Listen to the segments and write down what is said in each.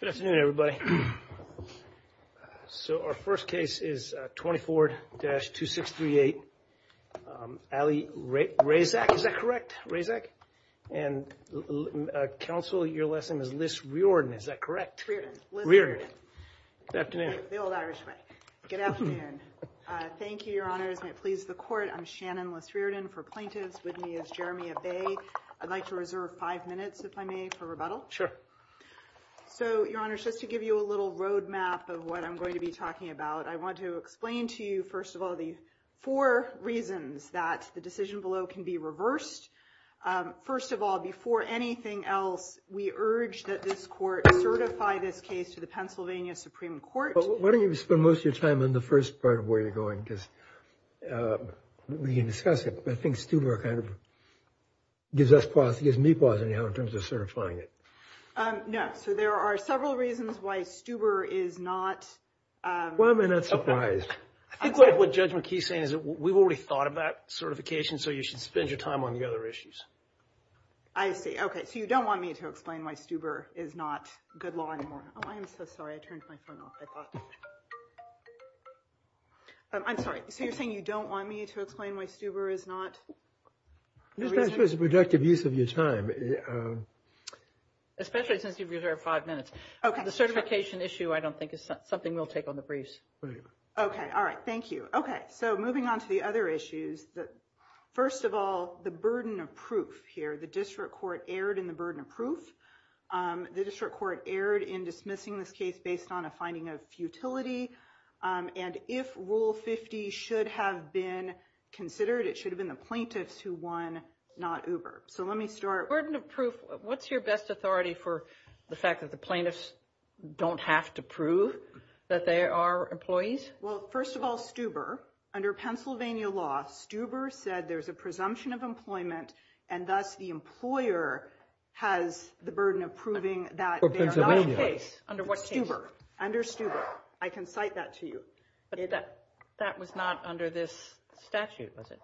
Good afternoon, everybody. So our first case is 24-2638, Ali Razak, is that correct? Razak and counsel, your last name is Liz Reardon, is that correct? Reardon. Reardon. Good afternoon. The old Irish way. Good afternoon. Thank you, your honors. May it please the court. I'm Shannon Liz Reardon. For plaintiffs with me is Jeremiah Bay. I'd like to reserve five minutes, if I may, for rebuttal. Sure. So, your honors, just to give you a little roadmap of what I'm going to be talking about, I want to explain to you, first of all, the four reasons that the decision below can be reversed. First of all, before anything else, we urge that this court certify this case to the Pennsylvania Supreme Court. Why don't you spend most of your time on the first part of where you're going, because we can discuss it. I think Stuber kind of gives me pause anyhow in terms of certifying it. No. So, there are several reasons why Stuber is not- Well, I'm not surprised. I think what Judge McKee is saying is that we've already thought about certification, so you should spend your time on the other issues. I see. Okay. So, you don't want me to explain why Stuber is not good law anymore. Oh, I'm so sorry. I turned my phone off. I thought- I'm sorry. So, you're saying you don't want me to explain why Stuber is not- It's a productive use of your time. Especially since you've reserved five minutes. Okay. The certification issue, I don't think, is something we'll take on the briefs. Okay. All right. Thank you. Okay. So, moving on to the other issues, first of all, the burden of proof here. The district court erred in the burden of proof. The district court erred in dismissing this case based on a finding of futility. And if Rule 50 should have been considered, it should have been the plaintiffs who won, not Uber. So, let me start- Burden of proof. What's your best authority for the fact that the plaintiffs don't have to prove that they are employees? Well, first of all, Stuber, under Pennsylvania law, Stuber said there's a presumption of employment, and thus the employer has the burden of proving that- For Pennsylvania. Under what case? Under Stuber. I can cite that to you. That was not under this statute, was it?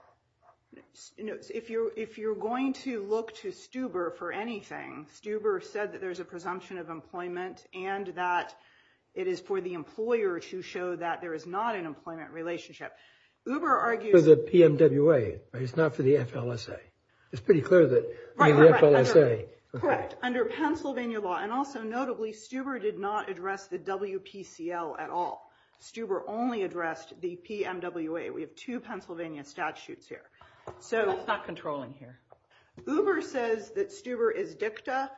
If you're going to look to Stuber for anything, Stuber said that there's a presumption of employment and that it is for the employer to show that there is not an employment relationship. Uber argues- For the PMWA, right? It's not for the FLSA. It's pretty clear that- Right, right, right. Under the FLSA. And also, notably, Stuber did not address the WPCL at all. Stuber only addressed the PMWA. We have two Pennsylvania statutes here. So- That's not controlling here. Uber says that Stuber is dicta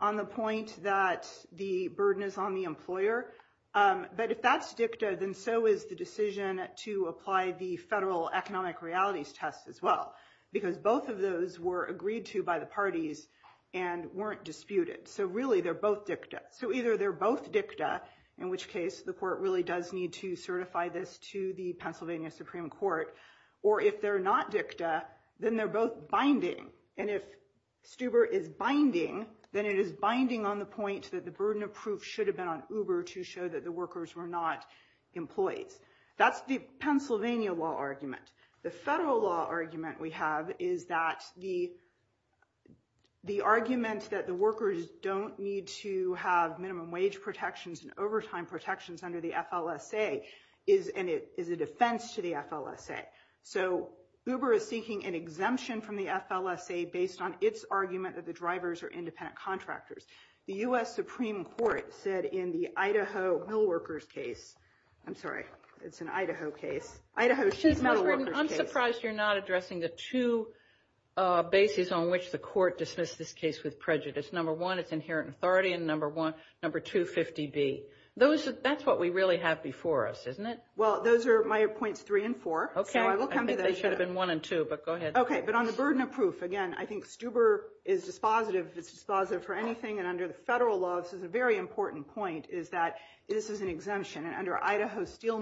on the point that the burden is on the employer, but if that's dicta, then so is the decision to apply the federal economic realities test as well, because both of those were agreed to by the parties and weren't disputed. So really, they're both dicta. So either they're both dicta, in which case the court really does need to certify this to the Pennsylvania Supreme Court, or if they're not dicta, then they're both binding. And if Stuber is binding, then it is binding on the point that the burden of proof should have been on Uber to show that the workers were not employees. That's the Pennsylvania law argument. The federal law argument we have is that the argument that the workers don't need to have minimum wage protections and overtime protections under the FLSA is a defense to the FLSA. So Uber is seeking an exemption from the FLSA based on its argument that the drivers are independent contractors. The U.S. Supreme Court said in the Idaho mill workers case, I'm sorry, it's an Idaho case, Idaho cheese mill workers case. I'm surprised you're not addressing the two bases on which the court dismissed this case with prejudice. Number one, it's inherent authority, and number two, 50B. That's what we really have before us, isn't it? Well, those are my points three and four. Okay. So I will come to that. I think they should have been one and two, but go ahead. Okay. But on the burden of proof, again, I think Stuber is dispositive. It's dispositive for anything. And under the federal law, this is a very important point, is that this is an exemption. And under Idaho steel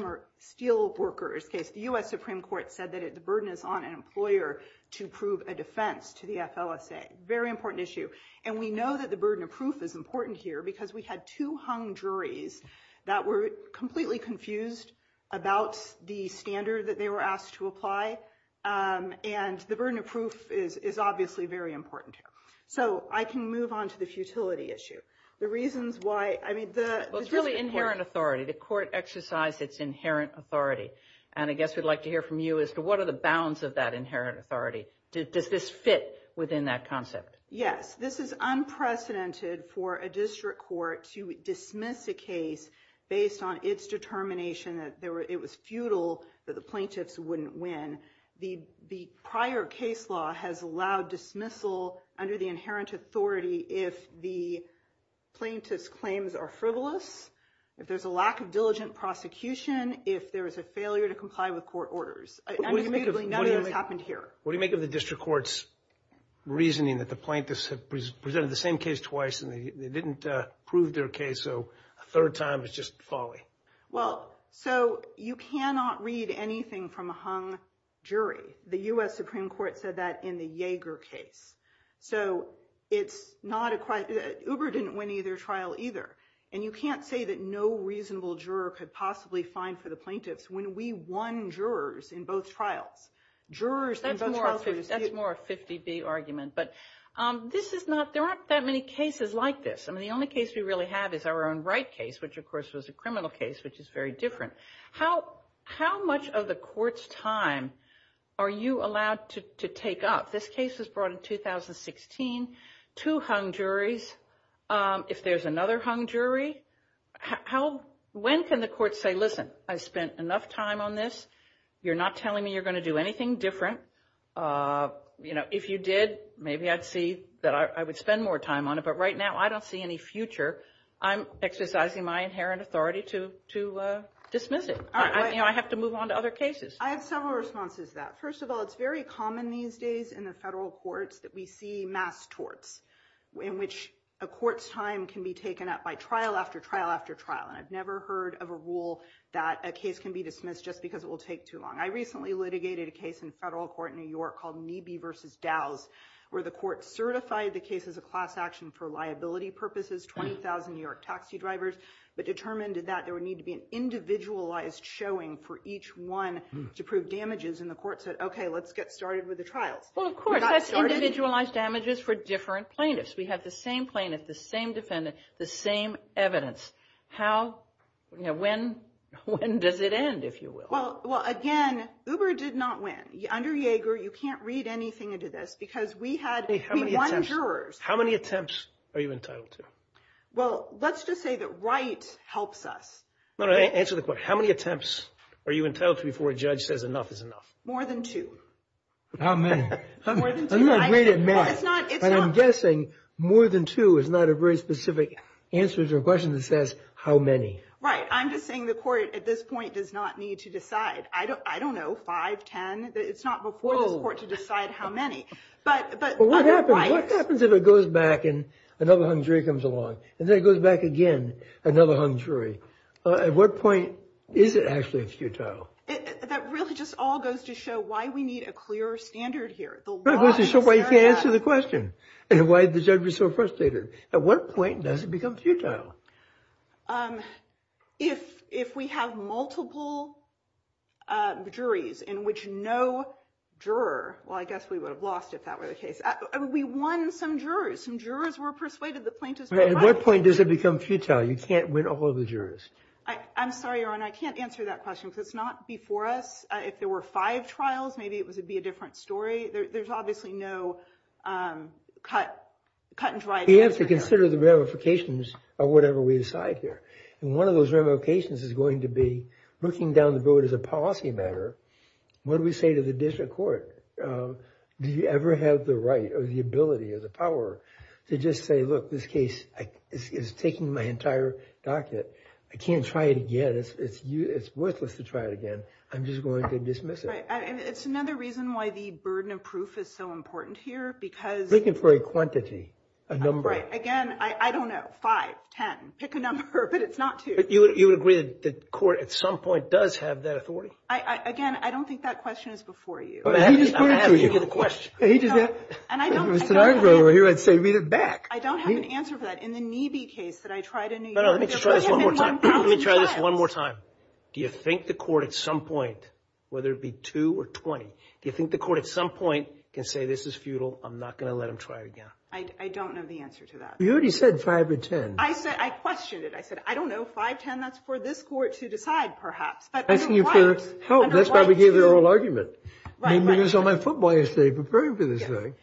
workers case, the U.S. Supreme Court said that the burden is on an employer to prove a defense to the FLSA. Very important issue. And we know that the burden of proof is important here because we had two hung juries that were completely confused about the standard that they were asked to apply. And the burden of proof is obviously very important here. So I can move on to the futility issue. The reasons why, I mean, the district court- Well, it's really inherent authority. The court exercised its inherent authority. And I guess we'd like to hear from you as to what are the bounds of that inherent authority. Does this fit within that concept? Yes. This is unprecedented for a district court to dismiss a case based on its determination that it was futile, that the plaintiffs wouldn't win. The prior case law has allowed dismissal under the inherent authority if the plaintiff's claims are frivolous, if there's a lack of diligent prosecution, if there is a failure to comply with court orders. What do you make of the district court's reasoning that the plaintiffs have presented the same case twice and they didn't prove their case, so a third time is just folly? Well, so you cannot read anything from a hung jury. The U.S. Supreme Court said that in the Yeager case. So it's not a- Uber didn't win either trial either. And you can't say that no reasonable juror could possibly find for the plaintiffs. When we won jurors in both trials, jurors- That's more a 50-B argument. But this is not- there aren't that many cases like this. I mean, the only case we really have is our own Wright case, which, of course, was a criminal case, which is very different. How much of the court's time are you allowed to take up? This case was brought in 2016. Two hung juries. If there's another hung jury, how- when can the court say, listen, I spent enough time on this. You're not telling me you're going to do anything different. You know, if you did, maybe I'd see that I would spend more time on it. But right now, I don't see any future. I'm exercising my inherent authority to dismiss it. You know, I have to move on to other cases. I have several responses to that. First of all, it's very common these days in the federal courts that we see mass torts, in which a court's time can be taken up by trial after trial after trial. And I've never heard of a rule that a case can be dismissed just because it will take too long. I recently litigated a case in federal court in New York called Kneeby v. Dows, where the court certified the case as a class action for liability purposes, 20,000 New York taxi drivers, but determined that there would need to be an individualized showing for each one to prove damages. And the court said, OK, let's get started with the trials. Well, of course, that's individualized damages for different plaintiffs. We have the same plaintiff, the same defendant, the same evidence. When? When does it end, if you will? Well, again, Uber did not win. Under Yeager, you can't read anything into this because we had one jurors. How many attempts are you entitled to? Well, let's just say that Wright helps us. No, no, answer the question. How many attempts are you entitled to before a judge says enough is enough? More than two. How many? More than two. I'm not great at math, but I'm guessing more than two is not a very specific answer to a question that says how many. Right. I'm just saying the court at this point does not need to decide. I don't know, five, ten. It's not before this court to decide how many. But what happens if it goes back and another hung jury comes along? And then it goes back again, another hung jury. At what point is it actually futile? That really just all goes to show why we need a clearer standard here. It goes to show why you can't answer the question and why the judge was so frustrated. At what point does it become futile? If we have multiple juries in which no juror, well, I guess we would have lost if that were the case. We won some jurors. Some jurors were persuaded that plaintiffs were right. At what point does it become futile? You can't win all of the jurors. I'm sorry, Your Honor. I can't answer that question because it's not before us. If there were five trials, maybe it would be a different story. There's obviously no cut and dry answer here. We have to consider the ramifications of whatever we decide here. And one of those ramifications is going to be looking down the road as a policy matter. What do we say to the district court? Do you ever have the right or the ability or the power to just say, look, this case is taking my entire docket. I can't try it again. It's worthless to try it again. I'm just going to dismiss it. It's another reason why the burden of proof is so important here because. Looking for a quantity, a number. Again, I don't know, five, ten, pick a number, but it's not two. You would agree that the court at some point does have that authority? Again, I don't think that question is before you. He just pointed to you. I don't have an answer for that. In the Knebe case that I tried in New York. Let me try this one more time. Do you think the court at some point, whether it be two or 20, do you think the court at some point can say this is futile? I'm not going to let him try again. I don't know the answer to that. You already said five or ten. I said, I questioned it. I said, I don't know, five, ten, that's for this court to decide perhaps. That's why we gave the oral argument. Right, right. I mean, it was on my football essay preparing for this thing.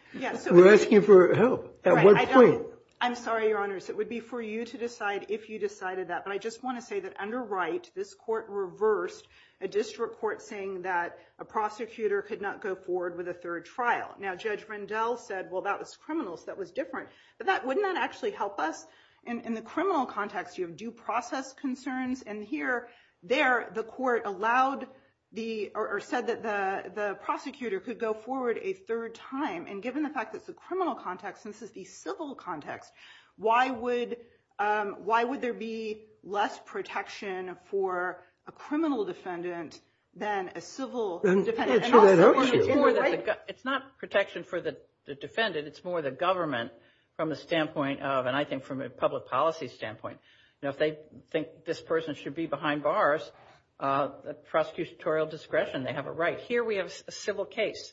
We're asking for help. At what point? I'm sorry, Your Honors. It would be for you to decide if you decided that. But I just want to say that under Wright, this court reversed a district court saying that a prosecutor could not go forward with a third trial. Now, Judge Rendell said, well, that was criminal, so that was different. But wouldn't that actually help us? In the criminal context, you have due process concerns. And here, there, the court said that the prosecutor could go forward a third time. And given the fact that it's a criminal context and this is the civil context, why would there be less protection for a criminal defendant than a civil defendant? It's not protection for the defendant. It's more the government from the standpoint of, and I think from a public policy standpoint. You know, if they think this person should be behind bars, prosecutorial discretion, they have a right. Here we have a civil case.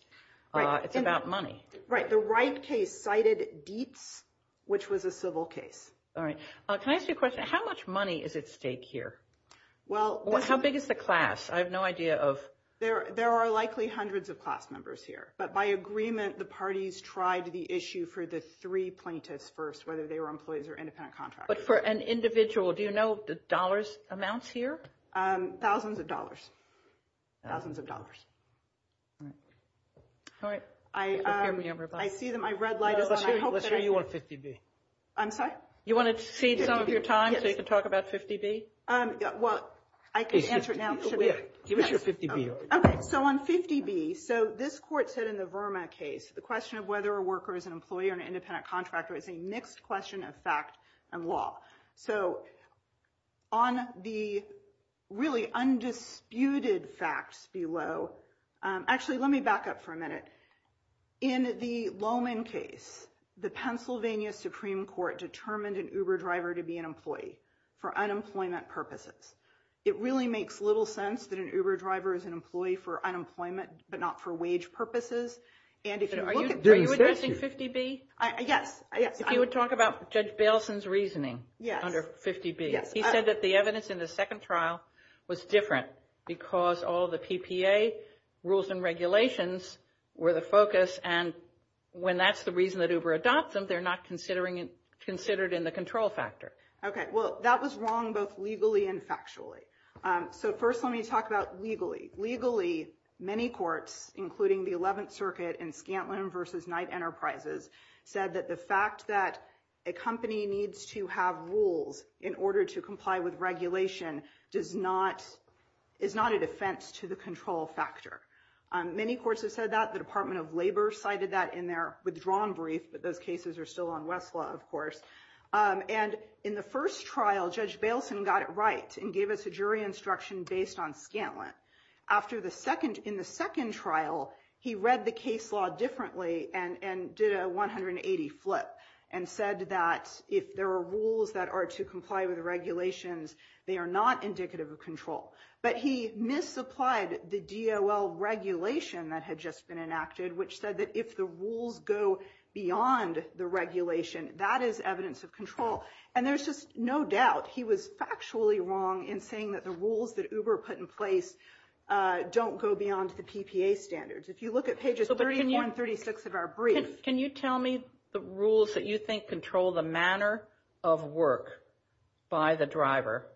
It's about money. Right. The Wright case cited Dietz, which was a civil case. All right. Can I ask you a question? How much money is at stake here? How big is the class? I have no idea of. There are likely hundreds of class members here. But by agreement, the parties tried the issue for the three plaintiffs first, whether they were employees or independent contractors. But for an individual, do you know the dollars amounts here? Thousands of dollars. Thousands of dollars. All right. I see that my red light is on. Let's hear you on 50B. I'm sorry? You want to cede some of your time so you can talk about 50B? Well, I can answer it now. Give us your 50B. Okay. So on 50B, so this court said in the Verma case, the question of whether a worker is an employee or an independent contractor is a mixed question of fact and law. So on the really undisputed facts below, actually, let me back up for a minute. In the Lowman case, the Pennsylvania Supreme Court determined an Uber driver to be an employee for unemployment purposes. It really makes little sense that an Uber driver is an employee for unemployment but not for wage purposes. Are you addressing 50B? Yes. If you would talk about Judge Baleson's reasoning under 50B. He said that the evidence in the second trial was different because all the PPA rules and regulations were the focus. And when that's the reason that Uber adopts them, they're not considered in the control factor. Okay. Well, that was wrong both legally and factually. So first let me talk about legally. Legally, many courts, including the 11th Circuit and Scantlin v. Knight Enterprises, said that the fact that a company needs to have rules in order to comply with regulation is not a defense to the control factor. Many courts have said that. The Department of Labor cited that in their withdrawn brief, but those cases are still on Westlaw, of course. And in the first trial, Judge Baleson got it right and gave us a jury instruction based on Scantlin. In the second trial, he read the case law differently and did a 180 flip and said that if there are rules that are to comply with regulations, they are not indicative of control. But he misapplied the DOL regulation that had just been enacted, which said that if the rules go beyond the regulation, that is evidence of control. And there's just no doubt he was factually wrong in saying that the rules that Uber put in place don't go beyond the PPA standards. If you look at pages 34 and 36 of our brief. Can you tell me the rules that you think control the manner of work by the driver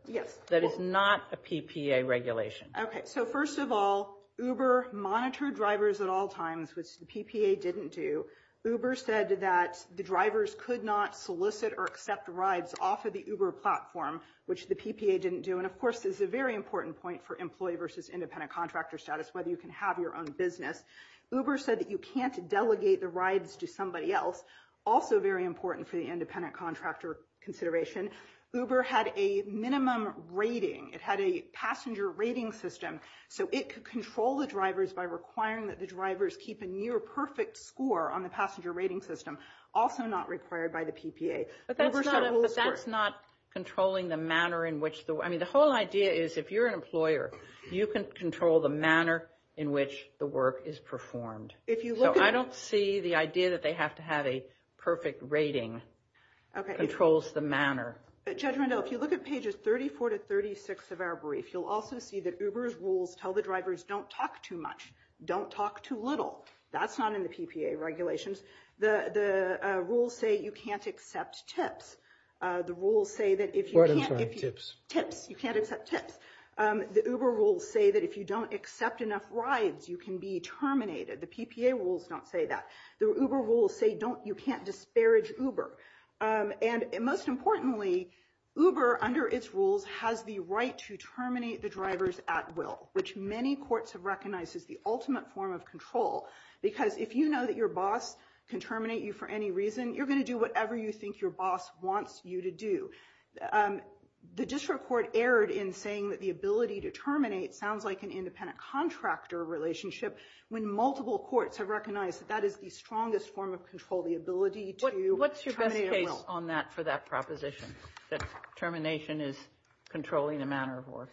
that is not a PPA regulation? Okay, so first of all, Uber monitored drivers at all times, which the PPA didn't do. Uber said that the drivers could not solicit or accept rides off of the Uber platform, which the PPA didn't do. And of course, this is a very important point for employee versus independent contractor status, whether you can have your own business. Uber said that you can't delegate the rides to somebody else. Also very important for the independent contractor consideration. Uber had a minimum rating. It had a passenger rating system, so it could control the drivers by requiring that the drivers keep a near perfect score on the passenger rating system, also not required by the PPA. But that's not controlling the manner in which the... I mean, the whole idea is if you're an employer, you can control the manner in which the work is performed. So I don't see the idea that they have to have a perfect rating that controls the manner. Judge Rendell, if you look at pages 34 to 36 of our brief, you'll also see that Uber's rules tell the drivers don't talk too much, don't talk too little. That's not in the PPA regulations. The rules say you can't accept tips. The rules say that if you can't... What? I'm sorry. Tips. Tips. You can't accept tips. The Uber rules say that if you don't accept enough rides, you can be terminated. The PPA rules don't say that. The Uber rules say you can't disparage Uber. And most importantly, Uber, under its rules, has the right to terminate the drivers at will, which many courts have recognized as the ultimate form of control. Because if you know that your boss can terminate you for any reason, you're going to do whatever you think your boss wants you to do. The district court erred in saying that the ability to terminate sounds like an independent contractor relationship, when multiple courts have recognized that that is the strongest form of control, the ability to terminate at will. What's your best case on that for that proposition, that termination is controlling the manner of work?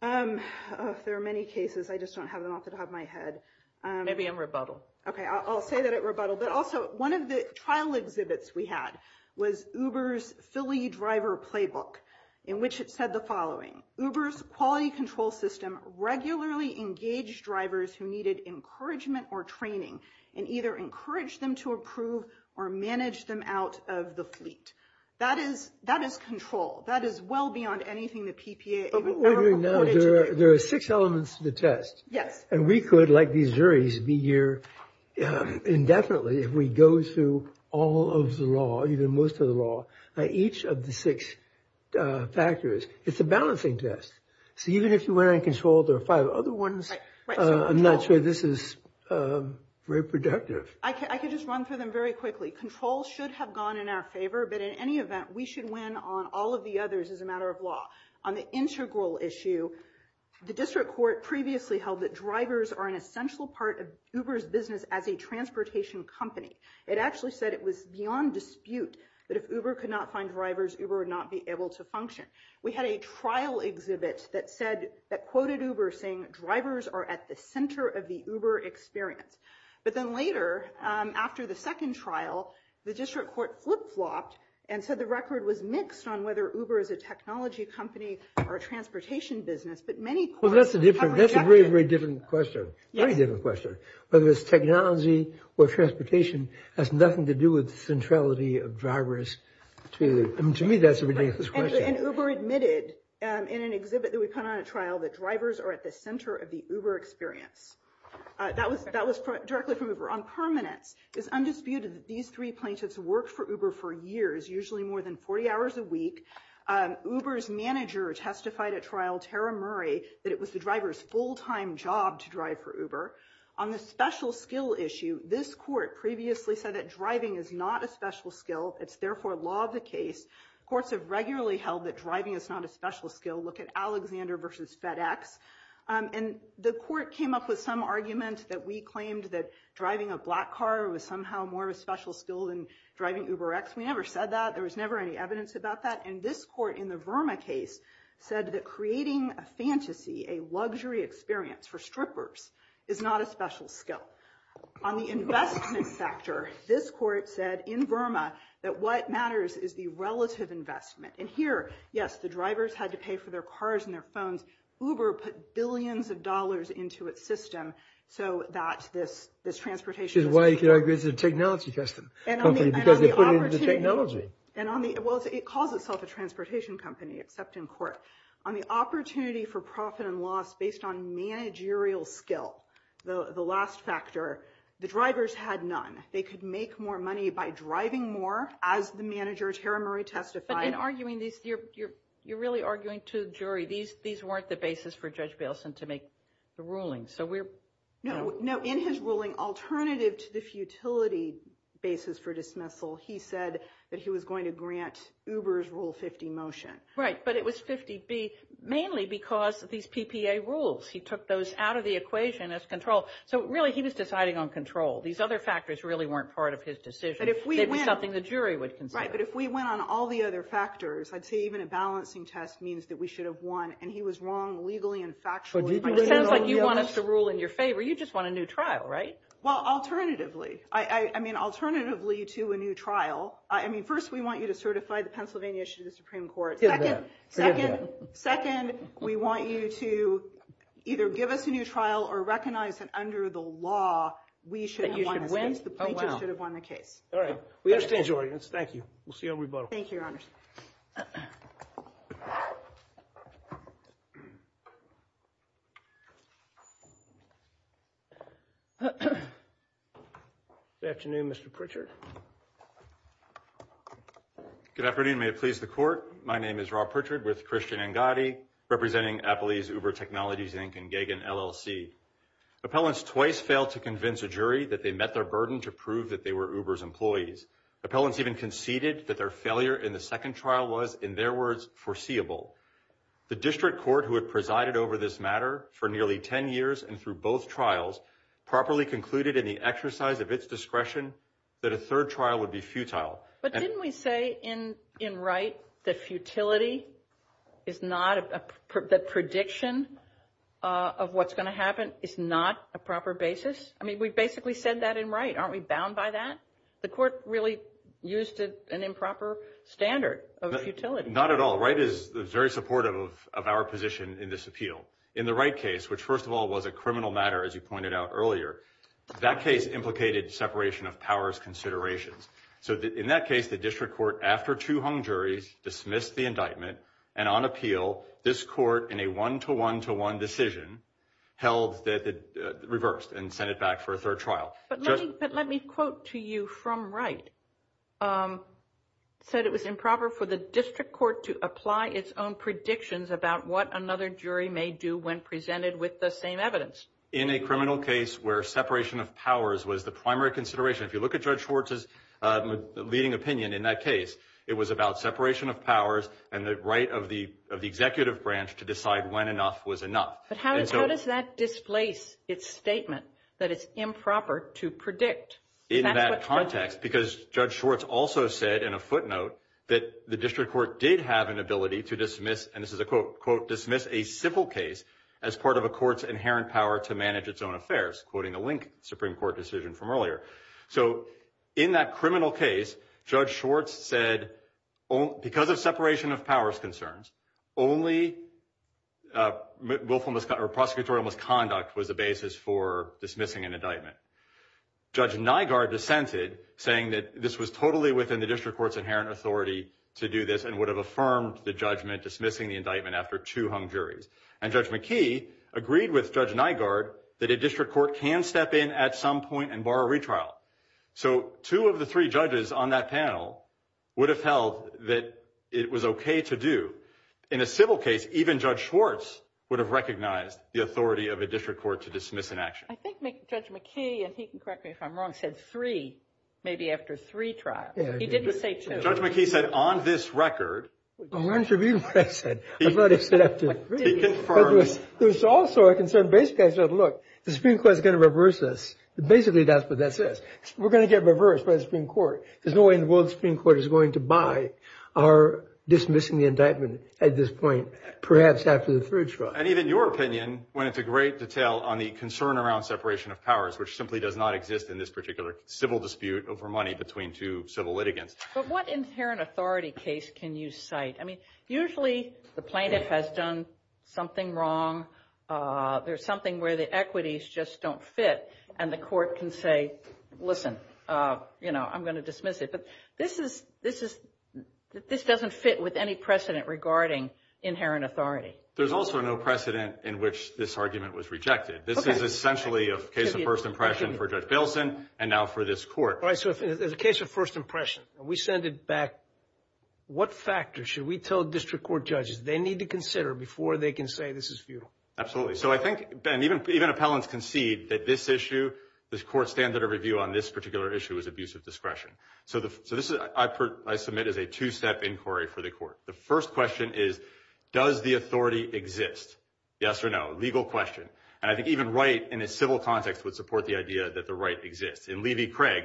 There are many cases. I just don't have them off the top of my head. Maybe in rebuttal. Okay, I'll say that at rebuttal. But also, one of the trial exhibits we had was Uber's Philly driver playbook, in which it said the following. Uber's quality control system regularly engaged drivers who needed encouragement or training, and either encouraged them to approve or managed them out of the fleet. That is control. That is well beyond anything the PPA ever reported to the community. But what we're doing now, there are six elements to the test. Yes. And we could, like these juries, be here indefinitely if we go through all of the law, even most of the law, each of the six factors. It's a balancing test. So even if you went on control, there are five other ones. I'm not sure this is very productive. I could just run through them very quickly. Control should have gone in our favor, but in any event, we should win on all of the others as a matter of law. On the integral issue, the district court previously held that drivers are an essential part of Uber's business as a transportation company. It actually said it was beyond dispute that if Uber could not find drivers, Uber would not be able to function. We had a trial exhibit that quoted Uber, saying drivers are at the center of the Uber experience. But then later, after the second trial, the district court flip-flopped and said the record was mixed on whether Uber is a technology company or a transportation business. Well, that's a very, very different question. Very different question. Whether it's technology or transportation has nothing to do with the centrality of drivers. To me, that's a ridiculous question. And Uber admitted in an exhibit that we put on at trial that drivers are at the center of the Uber experience. That was directly from Uber. It's undisputed that these three plaintiffs worked for Uber for years, usually more than 40 hours a week. Uber's manager testified at trial, Tara Murray, that it was the driver's full-time job to drive for Uber. On the special skill issue, this court previously said that driving is not a special skill. It's therefore law of the case. Courts have regularly held that driving is not a special skill. Look at Alexander v. FedEx. And the court came up with some argument that we claimed that driving a black car was somehow more of a special skill than driving UberX. We never said that. There was never any evidence about that. And this court in the Verma case said that creating a fantasy, a luxury experience for strippers is not a special skill. On the investment factor, this court said in Verma that what matters is the relative investment. And here, yes, the drivers had to pay for their cars and their phones. Uber put billions of dollars into its system so that this transportation system— Which is why you could argue it's a technology company, because they put it into technology. Well, it calls itself a transportation company, except in court. On the opportunity for profit and loss based on managerial skill, the last factor, the drivers had none. They could make more money by driving more, as the manager, Tara Murray, testified. You're really arguing to the jury. These weren't the basis for Judge Bailson to make the ruling. So we're— No, in his ruling, alternative to the futility basis for dismissal, he said that he was going to grant Uber's Rule 50 motion. Right, but it was 50B, mainly because of these PPA rules. He took those out of the equation as control. So, really, he was deciding on control. These other factors really weren't part of his decision. They were something the jury would consider. Right, but if we went on all the other factors, I'd say even a balancing test means that we should have won. And he was wrong legally and factually. It sounds like you want us to rule in your favor. You just want a new trial, right? Well, alternatively. I mean, alternatively to a new trial, I mean, first, we want you to certify the Pennsylvania issue to the Supreme Court. Second, we want you to either give us a new trial or recognize that under the law, we should have won the case. Oh, wow. All right. We understand your audience. Thank you. We'll see you on rebuttal. Thank you, Your Honor. Good afternoon, Mr. Pritchard. Good afternoon. May it please the Court. My name is Rob Pritchard with Christian Angadi, representing Applebee's Uber Technologies, Inc. and Gagin, LLC. Appellants twice failed to convince a jury that they met their burden to prove that they were Uber's employees. Appellants even conceded that their failure in the second trial was, in their words, foreseeable. The district court, who had presided over this matter for nearly 10 years and through both trials, properly concluded in the exercise of its discretion that a third trial would be futile. But didn't we say in Wright that futility is not a – that prediction of what's going to happen is not a proper basis? I mean, we basically said that in Wright. Aren't we bound by that? The Court really used an improper standard of futility. Not at all. Wright is very supportive of our position in this appeal. In the Wright case, which, first of all, was a criminal matter, as you pointed out earlier, that case implicated separation of powers considerations. So in that case, the district court, after two hung juries, dismissed the indictment. And on appeal, this court, in a one-to-one-to-one decision, held that it reversed and sent it back for a third trial. But let me quote to you from Wright. It said it was improper for the district court to apply its own predictions about what another jury may do when presented with the same evidence. In a criminal case where separation of powers was the primary consideration, if you look at Judge Schwartz's leading opinion in that case, it was about separation of powers and the right of the executive branch to decide when enough was enough. But how does that displace its statement that it's improper to predict? In that context, because Judge Schwartz also said in a footnote that the district court did have an ability to dismiss, and this is a quote, quote, dismiss a civil case as part of a court's inherent power to manage its own affairs, quoting a link Supreme Court decision from earlier. So in that criminal case, Judge Schwartz said because of separation of powers concerns, only willful or prosecutorial misconduct was the basis for dismissing an indictment. Judge Nygaard dissented, saying that this was totally within the district court's inherent authority to do this and would have affirmed the judgment dismissing the indictment after two hung juries. And Judge McKee agreed with Judge Nygaard that a district court can step in at some point and bar a retrial. So two of the three judges on that panel would have held that it was okay to do. In a civil case, even Judge Schwartz would have recognized the authority of a district court to dismiss an action. I think Judge McKee, and he can correct me if I'm wrong, said three, maybe after three trials. He didn't say two. Judge McKee said on this record. There's also a concern. Basically, I said, look, the Supreme Court is going to reverse this. Basically, that's what that says. We're going to get reversed by the Supreme Court. There's no way in the world the Supreme Court is going to buy our dismissing the indictment at this point, perhaps after the third trial. And even your opinion, when it's a great detail on the concern around separation of powers, which simply does not exist in this particular civil dispute over money between two civil litigants. But what inherent authority case can you cite? I mean, usually the plaintiff has done something wrong. There's something where the equities just don't fit. And the court can say, listen, you know, I'm going to dismiss it. But this doesn't fit with any precedent regarding inherent authority. There's also no precedent in which this argument was rejected. This is essentially a case of first impression for Judge Billson and now for this court. All right, so as a case of first impression, we send it back. What factors should we tell district court judges they need to consider before they can say this is futile? Absolutely. So I think, Ben, even appellants concede that this issue, this court's standard of review on this particular issue is abuse of discretion. So this I submit as a two-step inquiry for the court. The first question is, does the authority exist? Yes or no? Legal question. And I think even Wright, in a civil context, would support the idea that the right exists. In Levy-Craig,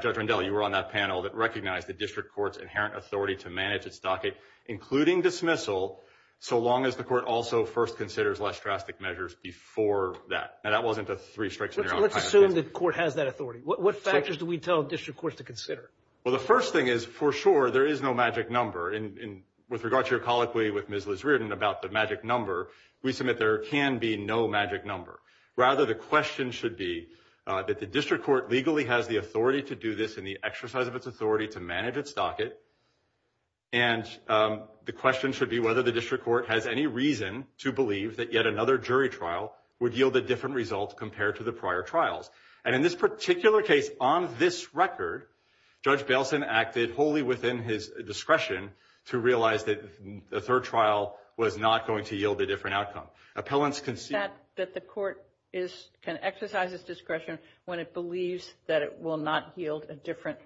Judge Rendell, you were on that panel that recognized the district court's inherent authority to manage its docket, including dismissal, so long as the court also first considers less drastic measures before that. Now, that wasn't a three strikes and you're out. Let's assume the court has that authority. What factors do we tell district courts to consider? Well, the first thing is, for sure, there is no magic number. And with regard to your colloquy with Ms. Liz Reardon about the magic number, we submit there can be no magic number. Rather, the question should be that the district court legally has the authority to do this and the exercise of its authority to manage its docket, and the question should be whether the district court has any reason to believe that yet another jury trial would yield a different result compared to the prior trials. And in this particular case, on this record, Judge Bailson acted wholly within his discretion to realize that a third trial was not going to yield a different outcome. That the court can exercise its discretion when it believes that it will not yield a different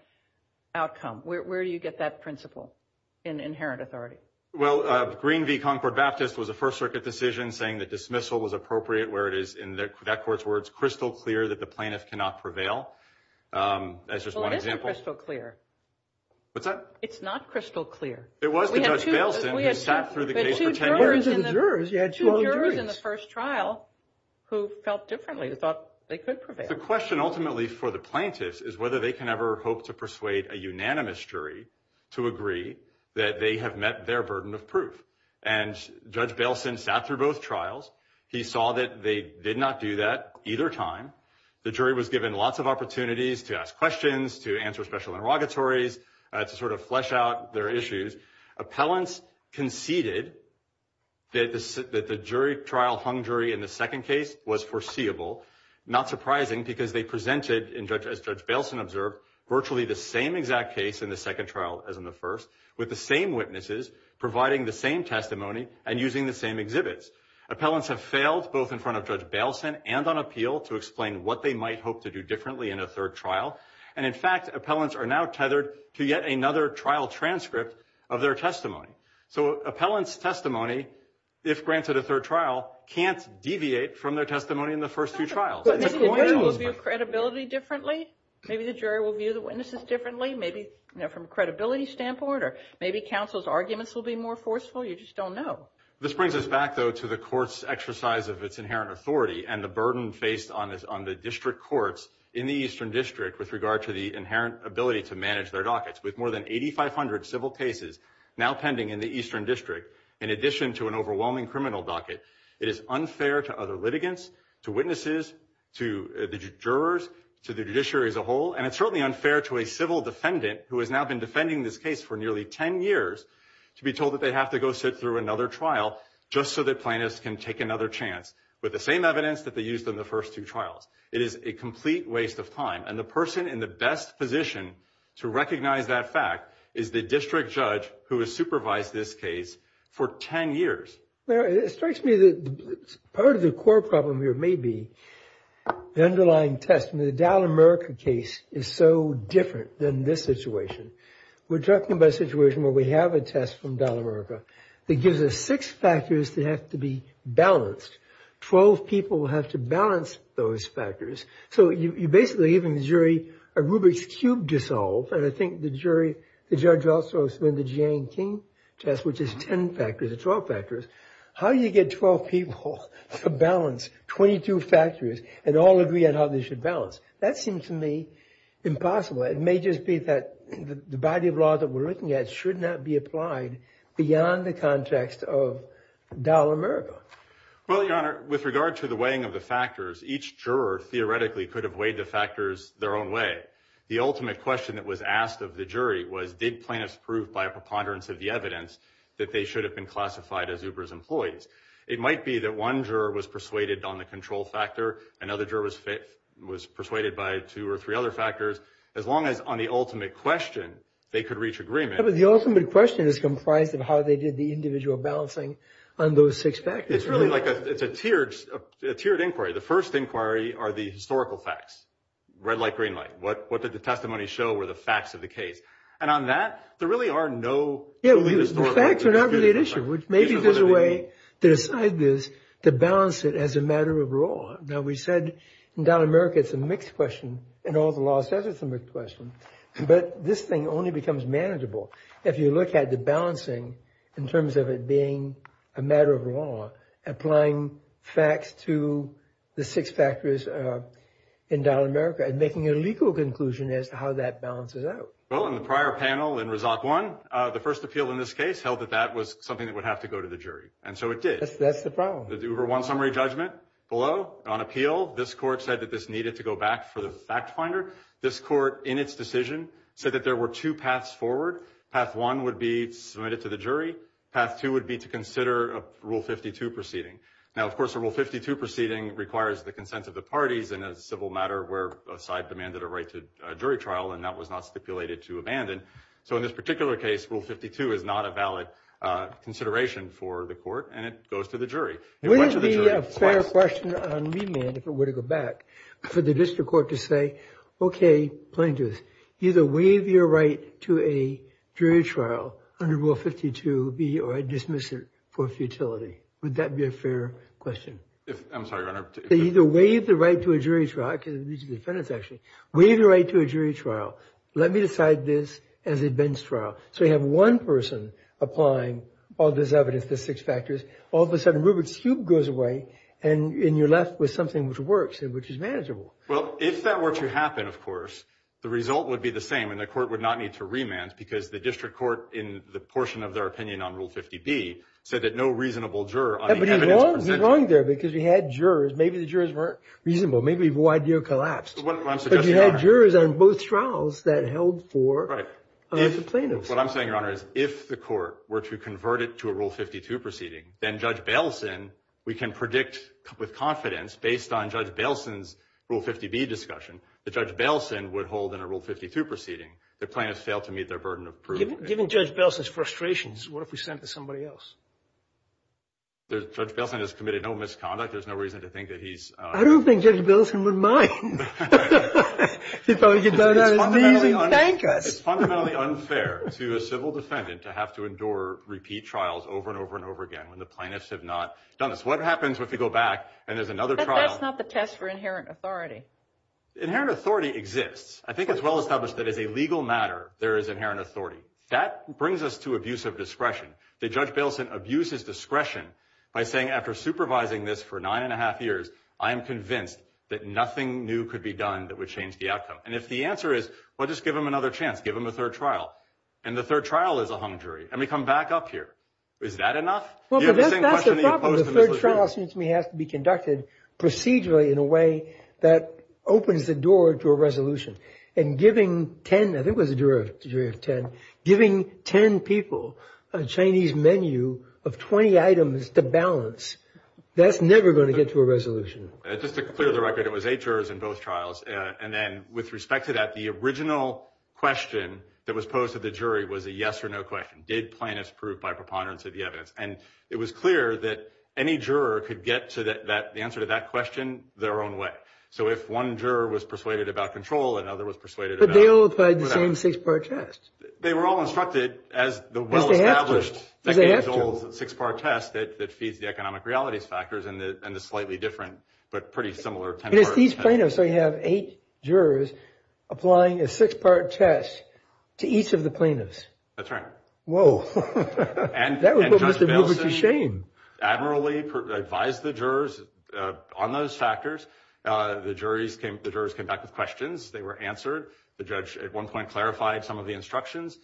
outcome. Where do you get that principle in inherent authority? Well, Green v. Concord Baptist was a First Circuit decision saying that dismissal was appropriate where it is, in that court's words, crystal clear that the plaintiff cannot prevail. That's just one example. Well, it isn't crystal clear. What's that? It's not crystal clear. It was to Judge Bailson who sat through the case for 10 years. In terms of the jurors, you had 12 juries. Two jurors in the first trial who felt differently, who thought they could prevail. The question ultimately for the plaintiffs is whether they can ever hope to persuade a unanimous jury to agree that they have met their burden of proof. And Judge Bailson sat through both trials. He saw that they did not do that either time. The jury was given lots of opportunities to ask questions, to answer special interrogatories, to sort of flesh out their issues. Appellants conceded that the jury trial hung jury in the second case was foreseeable. Not surprising because they presented, as Judge Bailson observed, virtually the same exact case in the second trial as in the first, with the same witnesses providing the same testimony and using the same exhibits. Appellants have failed both in front of Judge Bailson and on appeal to explain what they might hope to do differently in a third trial. And, in fact, appellants are now tethered to yet another trial transcript of their testimony. So appellants' testimony, if granted a third trial, can't deviate from their testimony in the first two trials. Maybe the jury will view credibility differently. Maybe the jury will view the witnesses differently, maybe from a credibility standpoint, or maybe counsel's arguments will be more forceful. You just don't know. This brings us back, though, to the court's exercise of its inherent authority and the burden faced on the district courts in the Eastern District with regard to the inherent ability to manage their dockets. With more than 8,500 civil cases now pending in the Eastern District, in addition to an overwhelming criminal docket, it is unfair to other litigants, to witnesses, to the jurors, to the judiciary as a whole, and it's certainly unfair to a civil defendant who has now been defending this case for nearly 10 years to be told that they have to go sit through another trial just so that plaintiffs can take another chance. With the same evidence that they used in the first two trials. It is a complete waste of time, and the person in the best position to recognize that fact is the district judge who has supervised this case for 10 years. Well, it strikes me that part of the core problem here may be the underlying test. The Dallas, America case is so different than this situation. We're talking about a situation where we have a test from Dallas, America that gives us six factors that have to be balanced. Twelve people have to balance those factors. So you're basically giving the jury a Rubik's cube to solve, and I think the jury, the judge also has to win the Jiang-King test, which is 10 factors or 12 factors. How do you get 12 people to balance 22 factors and all agree on how they should balance? That seems to me impossible. It may just be that the body of law that we're looking at should not be applied beyond the context of Dallas, America. Well, Your Honor, with regard to the weighing of the factors, each juror theoretically could have weighed the factors their own way. The ultimate question that was asked of the jury was, did plaintiffs prove by a preponderance of the evidence that they should have been classified as Uber's employees? It might be that one juror was persuaded on the control factor, another juror was persuaded by two or three other factors. As long as on the ultimate question, they could reach agreement. The ultimate question is comprised of how they did the individual balancing on those six factors. It's really like a tiered inquiry. The first inquiry are the historical facts. Red light, green light. What did the testimony show were the facts of the case? And on that, there really are no totally historical facts. The facts are not really at issue. Maybe there's a way to decide this, to balance it as a matter of law. Now, we said in Dallas, America, it's a mixed question, and all the law says it's a mixed question, but this thing only becomes manageable if you look at the balancing in terms of it being a matter of law, applying facts to the six factors in Dallas, America, and making a legal conclusion as to how that balances out. Well, in the prior panel in Resort One, the first appeal in this case held that that was something that would have to go to the jury, and so it did. That's the problem. The Uber One summary judgment below, on appeal, this court said that this needed to go back for the fact finder. This court, in its decision, said that there were two paths forward. Path one would be submitted to the jury. Path two would be to consider a Rule 52 proceeding. Now, of course, a Rule 52 proceeding requires the consent of the parties in a civil matter where a side demanded a right to a jury trial, and that was not stipulated to abandon. So in this particular case, Rule 52 is not a valid consideration for the court, and it goes to the jury. It went to the jury. Would it be a fair question on remand, if it were to go back, for the district court to say, okay, plain and just, either waive your right to a jury trial under Rule 52B or dismiss it for futility? Would that be a fair question? I'm sorry, Your Honor. Either waive the right to a jury trial, because these are defendants, actually. Waive the right to a jury trial. Let me decide this as a bench trial. So you have one person applying all this evidence, the six factors. All of a sudden, Rubik's Cube goes away, and you're left with something which works and which is manageable. Well, if that were to happen, of course, the result would be the same, and the court would not need to remand, because the district court, in the portion of their opinion on Rule 50B, said that no reasonable juror on the evidence presented. But he's wrong there, because we had jurors. Maybe the jurors weren't reasonable. Maybe the whole idea collapsed. But you had jurors on both trials that held for the plaintiffs. What I'm saying, Your Honor, is if the court were to convert it to a Rule 52 proceeding, then Judge Bailson, we can predict with confidence, based on Judge Bailson's Rule 50B discussion, that Judge Bailson would hold in a Rule 52 proceeding. The plaintiffs failed to meet their burden of proof. Given Judge Bailson's frustrations, what if we sent it to somebody else? Judge Bailson has committed no misconduct. There's no reason to think that he's – I don't think Judge Bailson would mind. He'd probably get down on his knees and thank us. It's fundamentally unfair to a civil defendant to have to endure repeat trials over and over and over again when the plaintiffs have not done this. What happens if you go back and there's another trial? But that's not the test for inherent authority. Inherent authority exists. I think it's well established that as a legal matter, there is inherent authority. That brings us to abuse of discretion. That Judge Bailson abuses discretion by saying, after supervising this for nine and a half years, I am convinced that nothing new could be done that would change the outcome. And if the answer is, well, just give him another chance. Give him a third trial. And the third trial is a hung jury. And we come back up here. Is that enough? That's the problem. The third trial, it seems to me, has to be conducted procedurally in a way that opens the door to a resolution. And giving 10 – I think it was a jury of 10 – giving 10 people a Chinese menu of 20 items to balance, that's never going to get to a resolution. Just to clear the record, it was eight jurors in both trials. And then with respect to that, the original question that was posed to the jury was a yes or no question. Did plaintiffs prove by preponderance of the evidence? And it was clear that any juror could get to the answer to that question their own way. So if one juror was persuaded about control, another was persuaded about whatever. But they all applied the same six-part test. They were all instructed as the well-established six-part test that feeds the economic realities factors and the slightly different but pretty similar 10-part test. And it's these plaintiffs. So you have eight jurors applying a six-part test to each of the plaintiffs. That's right. And Judge Bilson admirably advised the jurors on those factors. The jurors came back with questions. They were answered. The judge at one point clarified some of the instructions.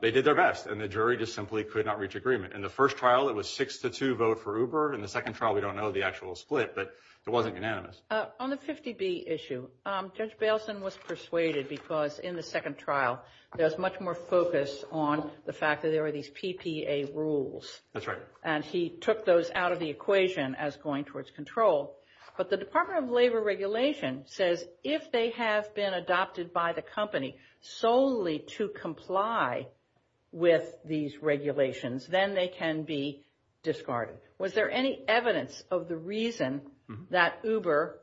They did their best. And the jury just simply could not reach agreement. In the first trial, it was six to two vote for Uber. In the second trial, we don't know the actual split. But it wasn't unanimous. On the 50B issue, Judge Bilson was persuaded because in the second trial, there was much more focus on the fact that there were these PPA rules. That's right. And he took those out of the equation as going towards control. But the Department of Labor regulation says if they have been adopted by the company solely to comply with these regulations, then they can be discarded. Was there any evidence of the reason that Uber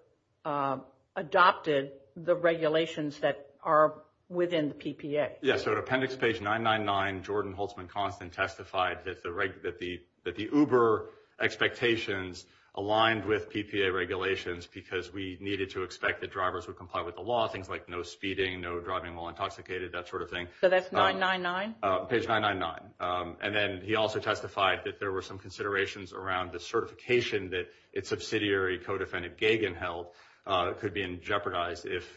adopted the regulations that are within the PPA? On appendix page 999, Jordan Holtzman-Constant testified that the Uber expectations aligned with PPA regulations because we needed to expect that drivers would comply with the law, things like no speeding, no driving while intoxicated, that sort of thing. So that's 999? Page 999. And then he also testified that there were some considerations around the certification that its subsidiary, co-defendant Gagin held could be jeopardized if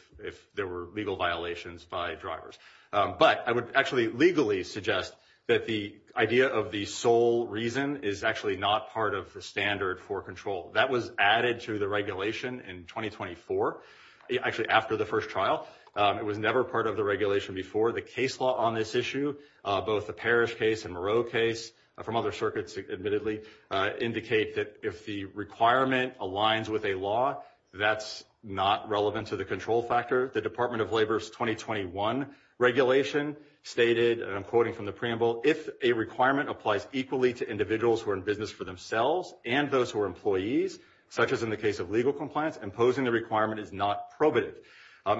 there were legal violations by drivers. But I would actually legally suggest that the idea of the sole reason is actually not part of the standard for control. That was added to the regulation in 2024, actually after the first trial. It was never part of the regulation before. The case law on this issue, both the Parrish case and Moreau case from other circuits admittedly, indicate that if the requirement aligns with a law, that's not relevant to the control factor. The Department of Labor's 2021 regulation stated, and I'm quoting from the preamble, if a requirement applies equally to individuals who are in business for themselves and those who are employees, such as in the case of legal compliance, imposing the requirement is not probative.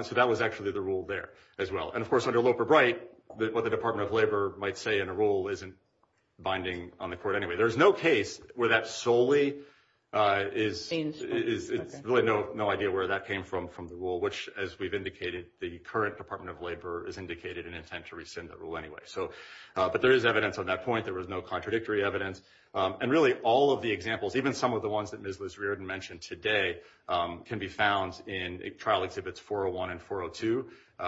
So that was actually the rule there as well. And, of course, under Loper-Bright, what the Department of Labor might say in a rule isn't binding on the court anyway. There's no case where that solely is. It's really no idea where that came from, from the rule, which, as we've indicated, the current Department of Labor has indicated an intent to rescind that rule anyway. But there is evidence on that point. There was no contradictory evidence. And really all of the examples, even some of the ones that Ms. Liz Riordan mentioned today, can be found in trial exhibits 401 and 402,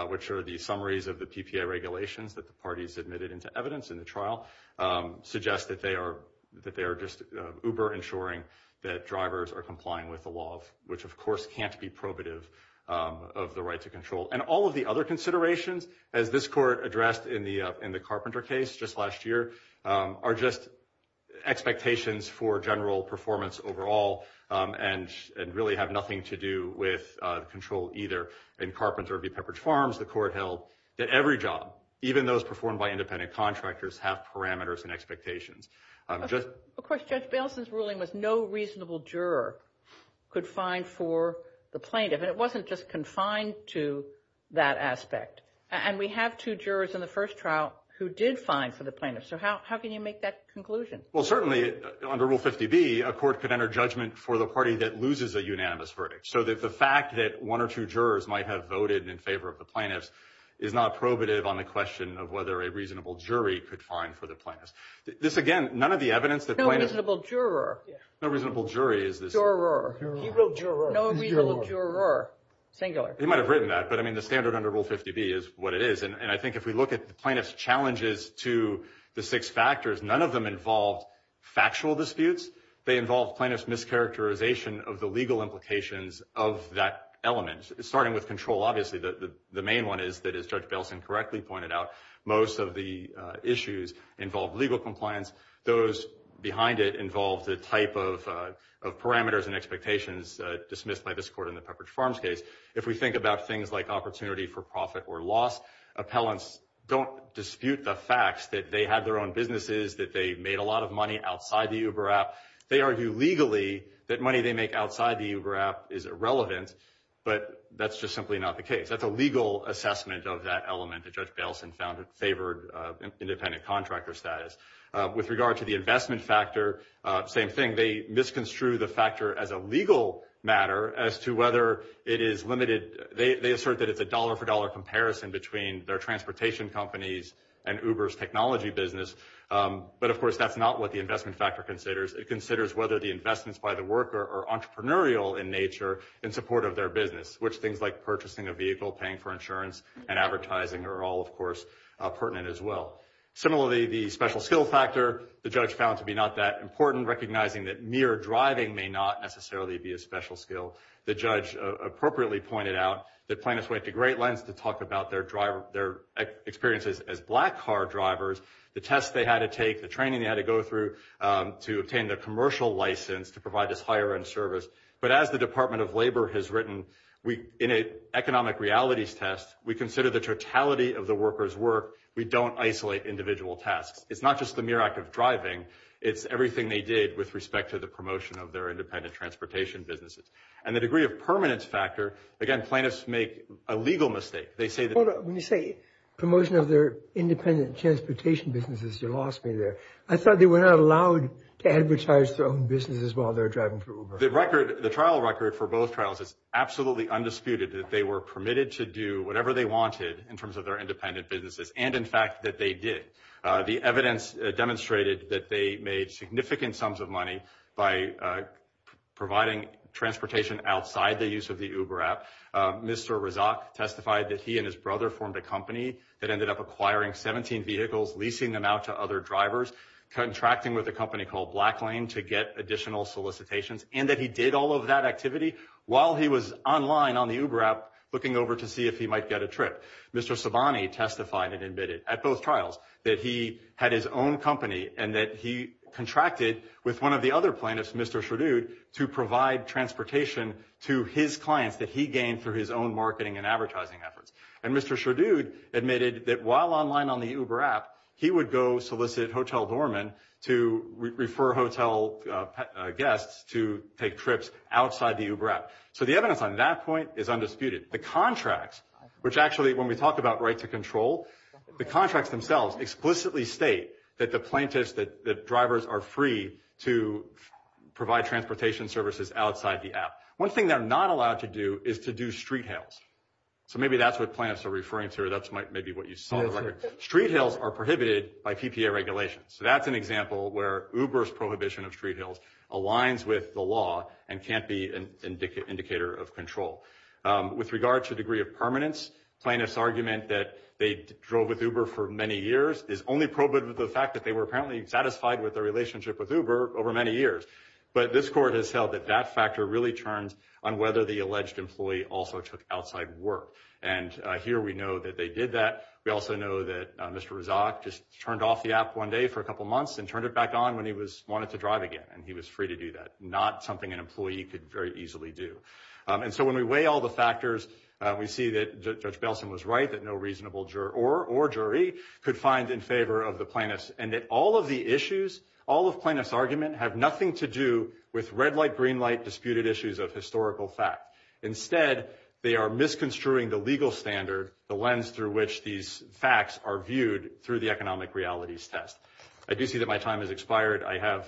which are the summaries of the PPA regulations that the parties admitted into evidence in the trial, suggest that they are just uber-ensuring that drivers are complying with the law, which, of course, can't be probative of the right to control. And all of the other considerations, as this court addressed in the Carpenter case just last year, are just expectations for general performance overall and really have nothing to do with control either in Carpenter or B. Pepperidge Farms, the court held, that every job, even those performed by independent contractors, have parameters and expectations. Of course, Judge Bailison's ruling was no reasonable juror could find for the plaintiff, and it wasn't just confined to that aspect. And we have two jurors in the first trial who did find for the plaintiff. So how can you make that conclusion? Well, certainly under Rule 50B, a court could enter judgment for the party that loses a unanimous verdict. So the fact that one or two jurors might have voted in favor of the plaintiffs is not probative on the question of whether a reasonable jury could find for the plaintiffs. This, again, none of the evidence that plaintiffs— No reasonable juror. No reasonable jury is this— Juror. He wrote juror. No reasonable juror, singular. He might have written that, but, I mean, the standard under Rule 50B is what it is. And I think if we look at the plaintiff's challenges to the six factors, none of them involved factual disputes. They involved plaintiffs' mischaracterization of the legal implications of that element, starting with control, obviously. The main one is that, as Judge Bailison correctly pointed out, most of the issues involved legal compliance. Those behind it involved the type of parameters and expectations dismissed by this court in the Pepperidge Farms case. If we think about things like opportunity for profit or loss, appellants don't dispute the facts that they had their own businesses, that they made a lot of money outside the Uber app. They argue legally that money they make outside the Uber app is irrelevant, but that's just simply not the case. That's a legal assessment of that element that Judge Bailison favored, independent contractor status. With regard to the investment factor, same thing. They misconstrued the factor as a legal matter as to whether it is limited. They assert that it's a dollar-for-dollar comparison between their transportation companies and Uber's technology business. But, of course, that's not what the investment factor considers. It considers whether the investments by the worker are entrepreneurial in nature in support of their business, which things like purchasing a vehicle, paying for insurance, and advertising are all, of course, pertinent as well. Similarly, the special skill factor, the judge found to be not that important, even recognizing that mere driving may not necessarily be a special skill. The judge appropriately pointed out that plaintiffs went to great lengths to talk about their experiences as black car drivers, the tests they had to take, the training they had to go through to obtain their commercial license to provide this higher-end service. But as the Department of Labor has written, in an economic realities test, we consider the totality of the worker's work. We don't isolate individual tasks. It's not just the mere act of driving. It's everything they did with respect to the promotion of their independent transportation businesses. And the degree of permanence factor, again, plaintiffs make a legal mistake. They say that... When you say promotion of their independent transportation businesses, you lost me there. I thought they were not allowed to advertise their own businesses while they're driving for Uber. The record, the trial record for both trials is absolutely undisputed that they were permitted to do whatever they wanted in terms of their independent businesses, and, in fact, that they did. The evidence demonstrated that they made significant sums of money by providing transportation outside the use of the Uber app. Mr. Razak testified that he and his brother formed a company that ended up acquiring 17 vehicles, leasing them out to other drivers, contracting with a company called BlackLane to get additional solicitations, and that he did all of that activity while he was online on the Uber app looking over to see if he might get a trip. Mr. Sabani testified and admitted at both trials that he had his own company and that he contracted with one of the other plaintiffs, Mr. Sherdood, to provide transportation to his clients that he gained through his own marketing and advertising efforts. And Mr. Sherdood admitted that while online on the Uber app, he would go solicit hotel doorman to refer hotel guests to take trips outside the Uber app. So the evidence on that point is undisputed. The contracts, which actually when we talk about right to control, the contracts themselves explicitly state that the plaintiffs, that drivers are free to provide transportation services outside the app. One thing they're not allowed to do is to do street hails. So maybe that's what plaintiffs are referring to, or that's maybe what you saw. Street hails are prohibited by PPA regulations. So that's an example where Uber's prohibition of street hails aligns with the law and can't be an indicator of control. With regard to degree of permanence, plaintiffs' argument that they drove with Uber for many years is only probed with the fact that they were apparently satisfied with their relationship with Uber over many years. But this court has held that that factor really turns on whether the alleged employee also took outside work. And here we know that they did that. We also know that Mr. Razak just turned off the app one day for a couple months and turned it back on when he wanted to drive again, and he was free to do that, not something an employee could very easily do. And so when we weigh all the factors, we see that Judge Belson was right, that no reasonable juror or jury could find in favor of the plaintiffs, and that all of the issues, all of plaintiffs' argument, have nothing to do with red light, green light, disputed issues of historical fact. Instead, they are misconstruing the legal standard, the lens through which these facts are viewed through the economic realities test. I do see that my time has expired. I have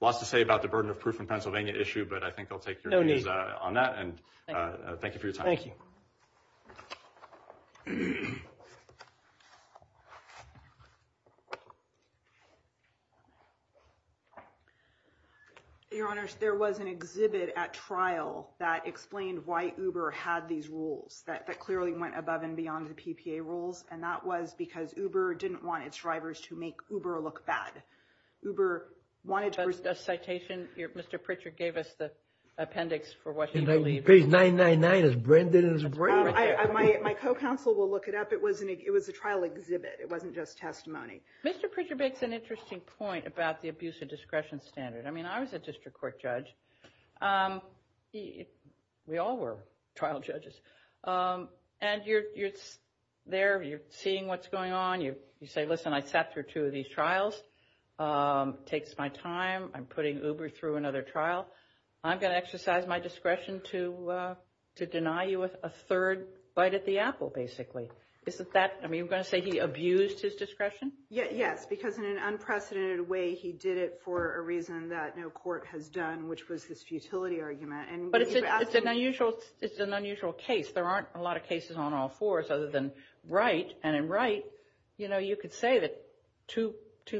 lots to say about the burden of proof in Pennsylvania issue, but I think I'll take your views on that, and thank you for your time. Thank you. Your Honors, there was an exhibit at trial that explained why Uber had these rules that clearly went above and beyond the PPA rules, and that was because Uber didn't want its drivers to make Uber look bad. A citation, Mr. Pritchard gave us the appendix for what he believes. Page 999 is Brendan's brain right there. My co-counsel will look it up. It was a trial exhibit. It wasn't just testimony. Mr. Pritchard makes an interesting point about the abuse of discretion standard. I mean, I was a district court judge. We all were trial judges. And you're there, you're seeing what's going on. You say, listen, I sat through two of these trials. It takes my time. I'm putting Uber through another trial. I'm going to exercise my discretion to deny you a third bite at the apple, basically. I mean, you're going to say he abused his discretion? Yes, because in an unprecedented way he did it for a reason that no court has done, which was his futility argument. But it's an unusual case. There aren't a lot of cases on all fours other than Wright. And in Wright, you could say that two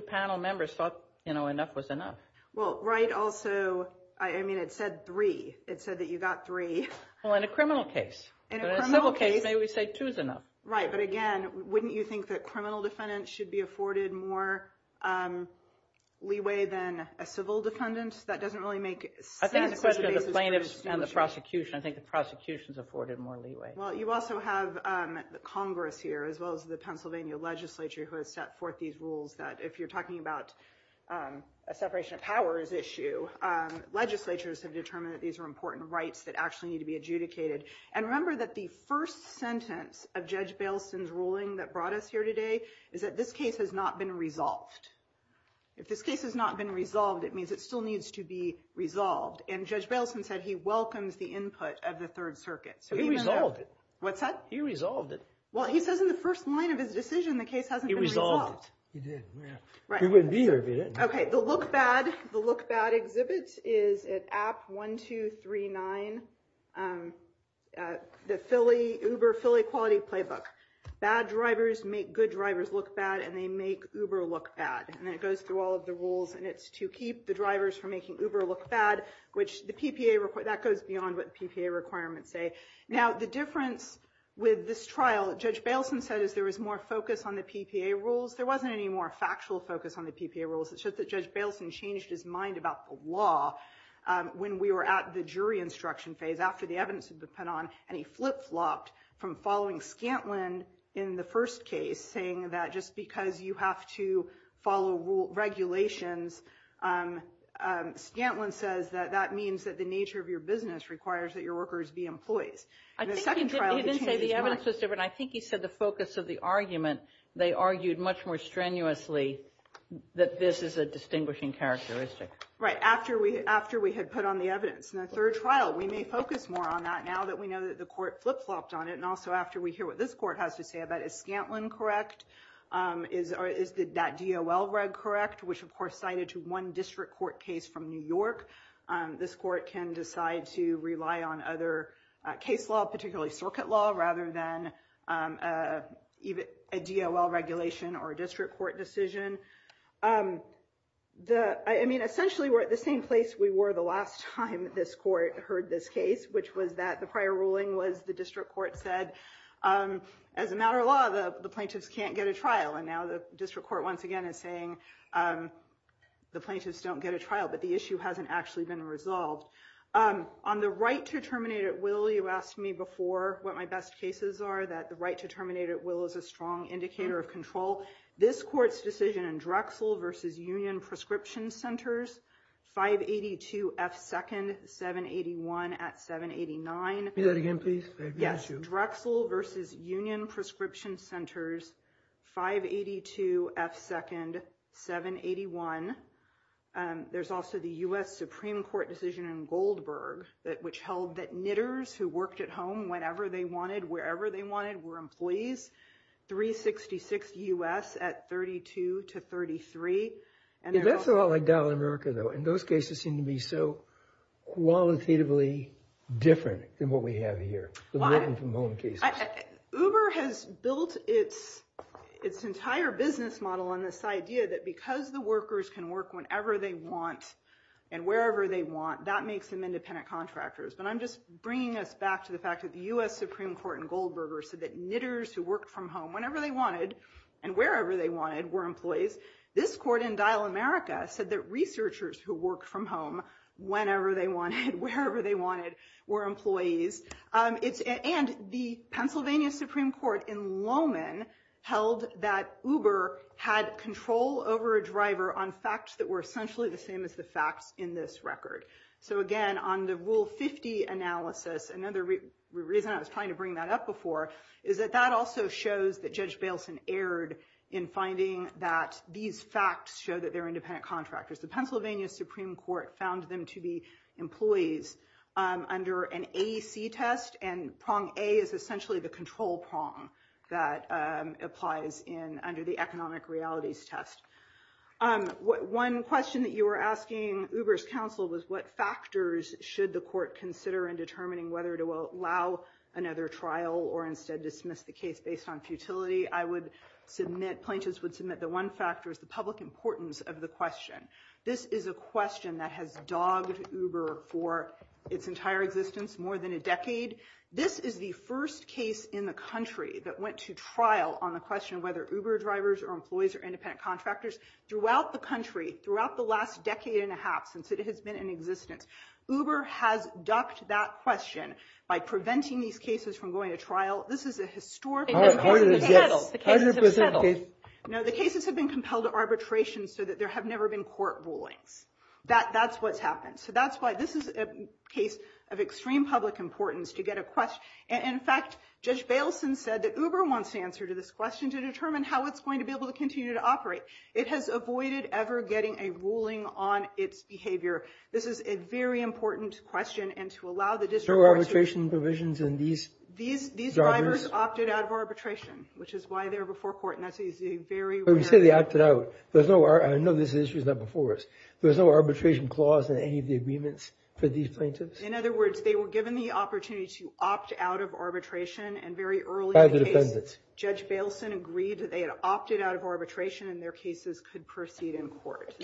panel members thought enough was enough. Well, Wright also, I mean, it said three. It said that you got three. Well, in a criminal case. In a civil case, maybe we say two is enough. Right, but again, wouldn't you think that criminal defendants should be afforded more leeway than a civil defendant? That doesn't really make sense. I think it's a question of the plaintiffs and the prosecution. I think the prosecution is afforded more leeway. Well, you also have Congress here, as well as the Pennsylvania legislature, who has set forth these rules that if you're talking about a separation of powers issue, legislatures have determined that these are important rights that actually need to be adjudicated. And remember that the first sentence of Judge Bailson's ruling that brought us here today is that this case has not been resolved. If this case has not been resolved, it means it still needs to be resolved. And Judge Bailson said he welcomes the input of the Third Circuit. He resolved it. What's that? He resolved it. Well, he says in the first line of his decision the case hasn't been resolved. He resolved it. He did. He wouldn't be here if he didn't. Okay. The look bad exhibit is at app 1239, the Uber Philly Quality Playbook. Bad drivers make good drivers look bad, and they make Uber look bad. And it goes through all of the rules, and it's to keep the drivers from making Uber look bad, which that goes beyond what the PPA requirements say. Now, the difference with this trial, Judge Bailson said, is there was more focus on the PPA rules. There wasn't any more factual focus on the PPA rules. It's just that Judge Bailson changed his mind about the law when we were at the jury instruction phase, after the evidence had been put on, and he flip-flopped from following Scantlin in the first case, saying that just because you have to follow regulations, Scantlin says that that means that the nature of your business requires that your workers be employees. In the second trial, he changed his mind. He didn't say the evidence was different. I think he said the focus of the argument, they argued much more strenuously that this is a distinguishing characteristic. Right, after we had put on the evidence. In the third trial, we may focus more on that now that we know that the court flip-flopped on it, and also after we hear what this court has to say about it. Is Scantlin correct? Is that DOL reg correct? Which, of course, cited to one district court case from New York. This court can decide to rely on other case law, particularly circuit law, rather than a DOL regulation or a district court decision. I mean, essentially, we're at the same place we were the last time this court heard this case, which was that the prior ruling was the district court said, as a matter of law, the plaintiffs can't get a trial. And now the district court, once again, is saying the plaintiffs don't get a trial. But the issue hasn't actually been resolved. On the right to terminate at will, you asked me before what my best cases are, that the right to terminate at will is a strong indicator of control. This court's decision in Drexel v. Union Prescription Centers, 582 F. 2nd, 781 at 789. Read that again, please. Yes, Drexel v. Union Prescription Centers, 582 F. 2nd, 781. There's also the U.S. Supreme Court decision in Goldberg, which held that knitters who worked at home whenever they wanted, wherever they wanted, were employees. 366 U.S. at 32 to 33. That's a lot like Dallas, America, though. And those cases seem to be so qualitatively different than what we have here. Uber has built its entire business model on this idea that because the workers can work whenever they want, and wherever they want, that makes them independent contractors. But I'm just bringing us back to the fact that the U.S. Supreme Court in Goldberg said that knitters who worked from home whenever they wanted, and wherever they wanted, were employees. This court in Dial America said that researchers who worked from home whenever they wanted, wherever they wanted, were employees. And the Pennsylvania Supreme Court in Lowman held that Uber had control over a driver on facts that were essentially the same as the facts in this record. So again, on the Rule 50 analysis, another reason I was trying to bring that up before, is that that also shows that Judge Bailson erred in finding that these facts show that they're independent contractors. The Pennsylvania Supreme Court found them to be employees under an AEC test, and prong A is essentially the control prong that applies under the economic realities test. One question that you were asking Uber's counsel was, what factors should the court consider in determining whether to allow another trial or instead dismiss the case based on futility? I would submit, plaintiffs would submit, that one factor is the public importance of the question. This is a question that has dogged Uber for its entire existence, more than a decade. This is the first case in the country that went to trial on the question of whether Uber drivers are employees or independent contractors. Throughout the country, throughout the last decade and a half since it has been in existence, Uber has ducked that question by preventing these cases from going to trial. This is a historic case. The cases have settled. No, the cases have been compelled to arbitration so that there have never been court rulings. That's what's happened. So that's why this is a case of extreme public importance to get a question. And in fact, Judge Baleson said that Uber wants to answer to this question to determine how it's going to be able to continue to operate. It has avoided ever getting a ruling on its behavior. This is a very important question. And to allow the district arbitration provisions in these these drivers opted out of arbitration, which is why they're before court. And that's easy. We say they opted out. There's no I know this is not before us. There's no arbitration clause in any of the agreements for these plaintiffs. In other words, they were given the opportunity to opt out of arbitration and very early. Judge Baleson agreed that they had opted out of arbitration and their cases could proceed in court.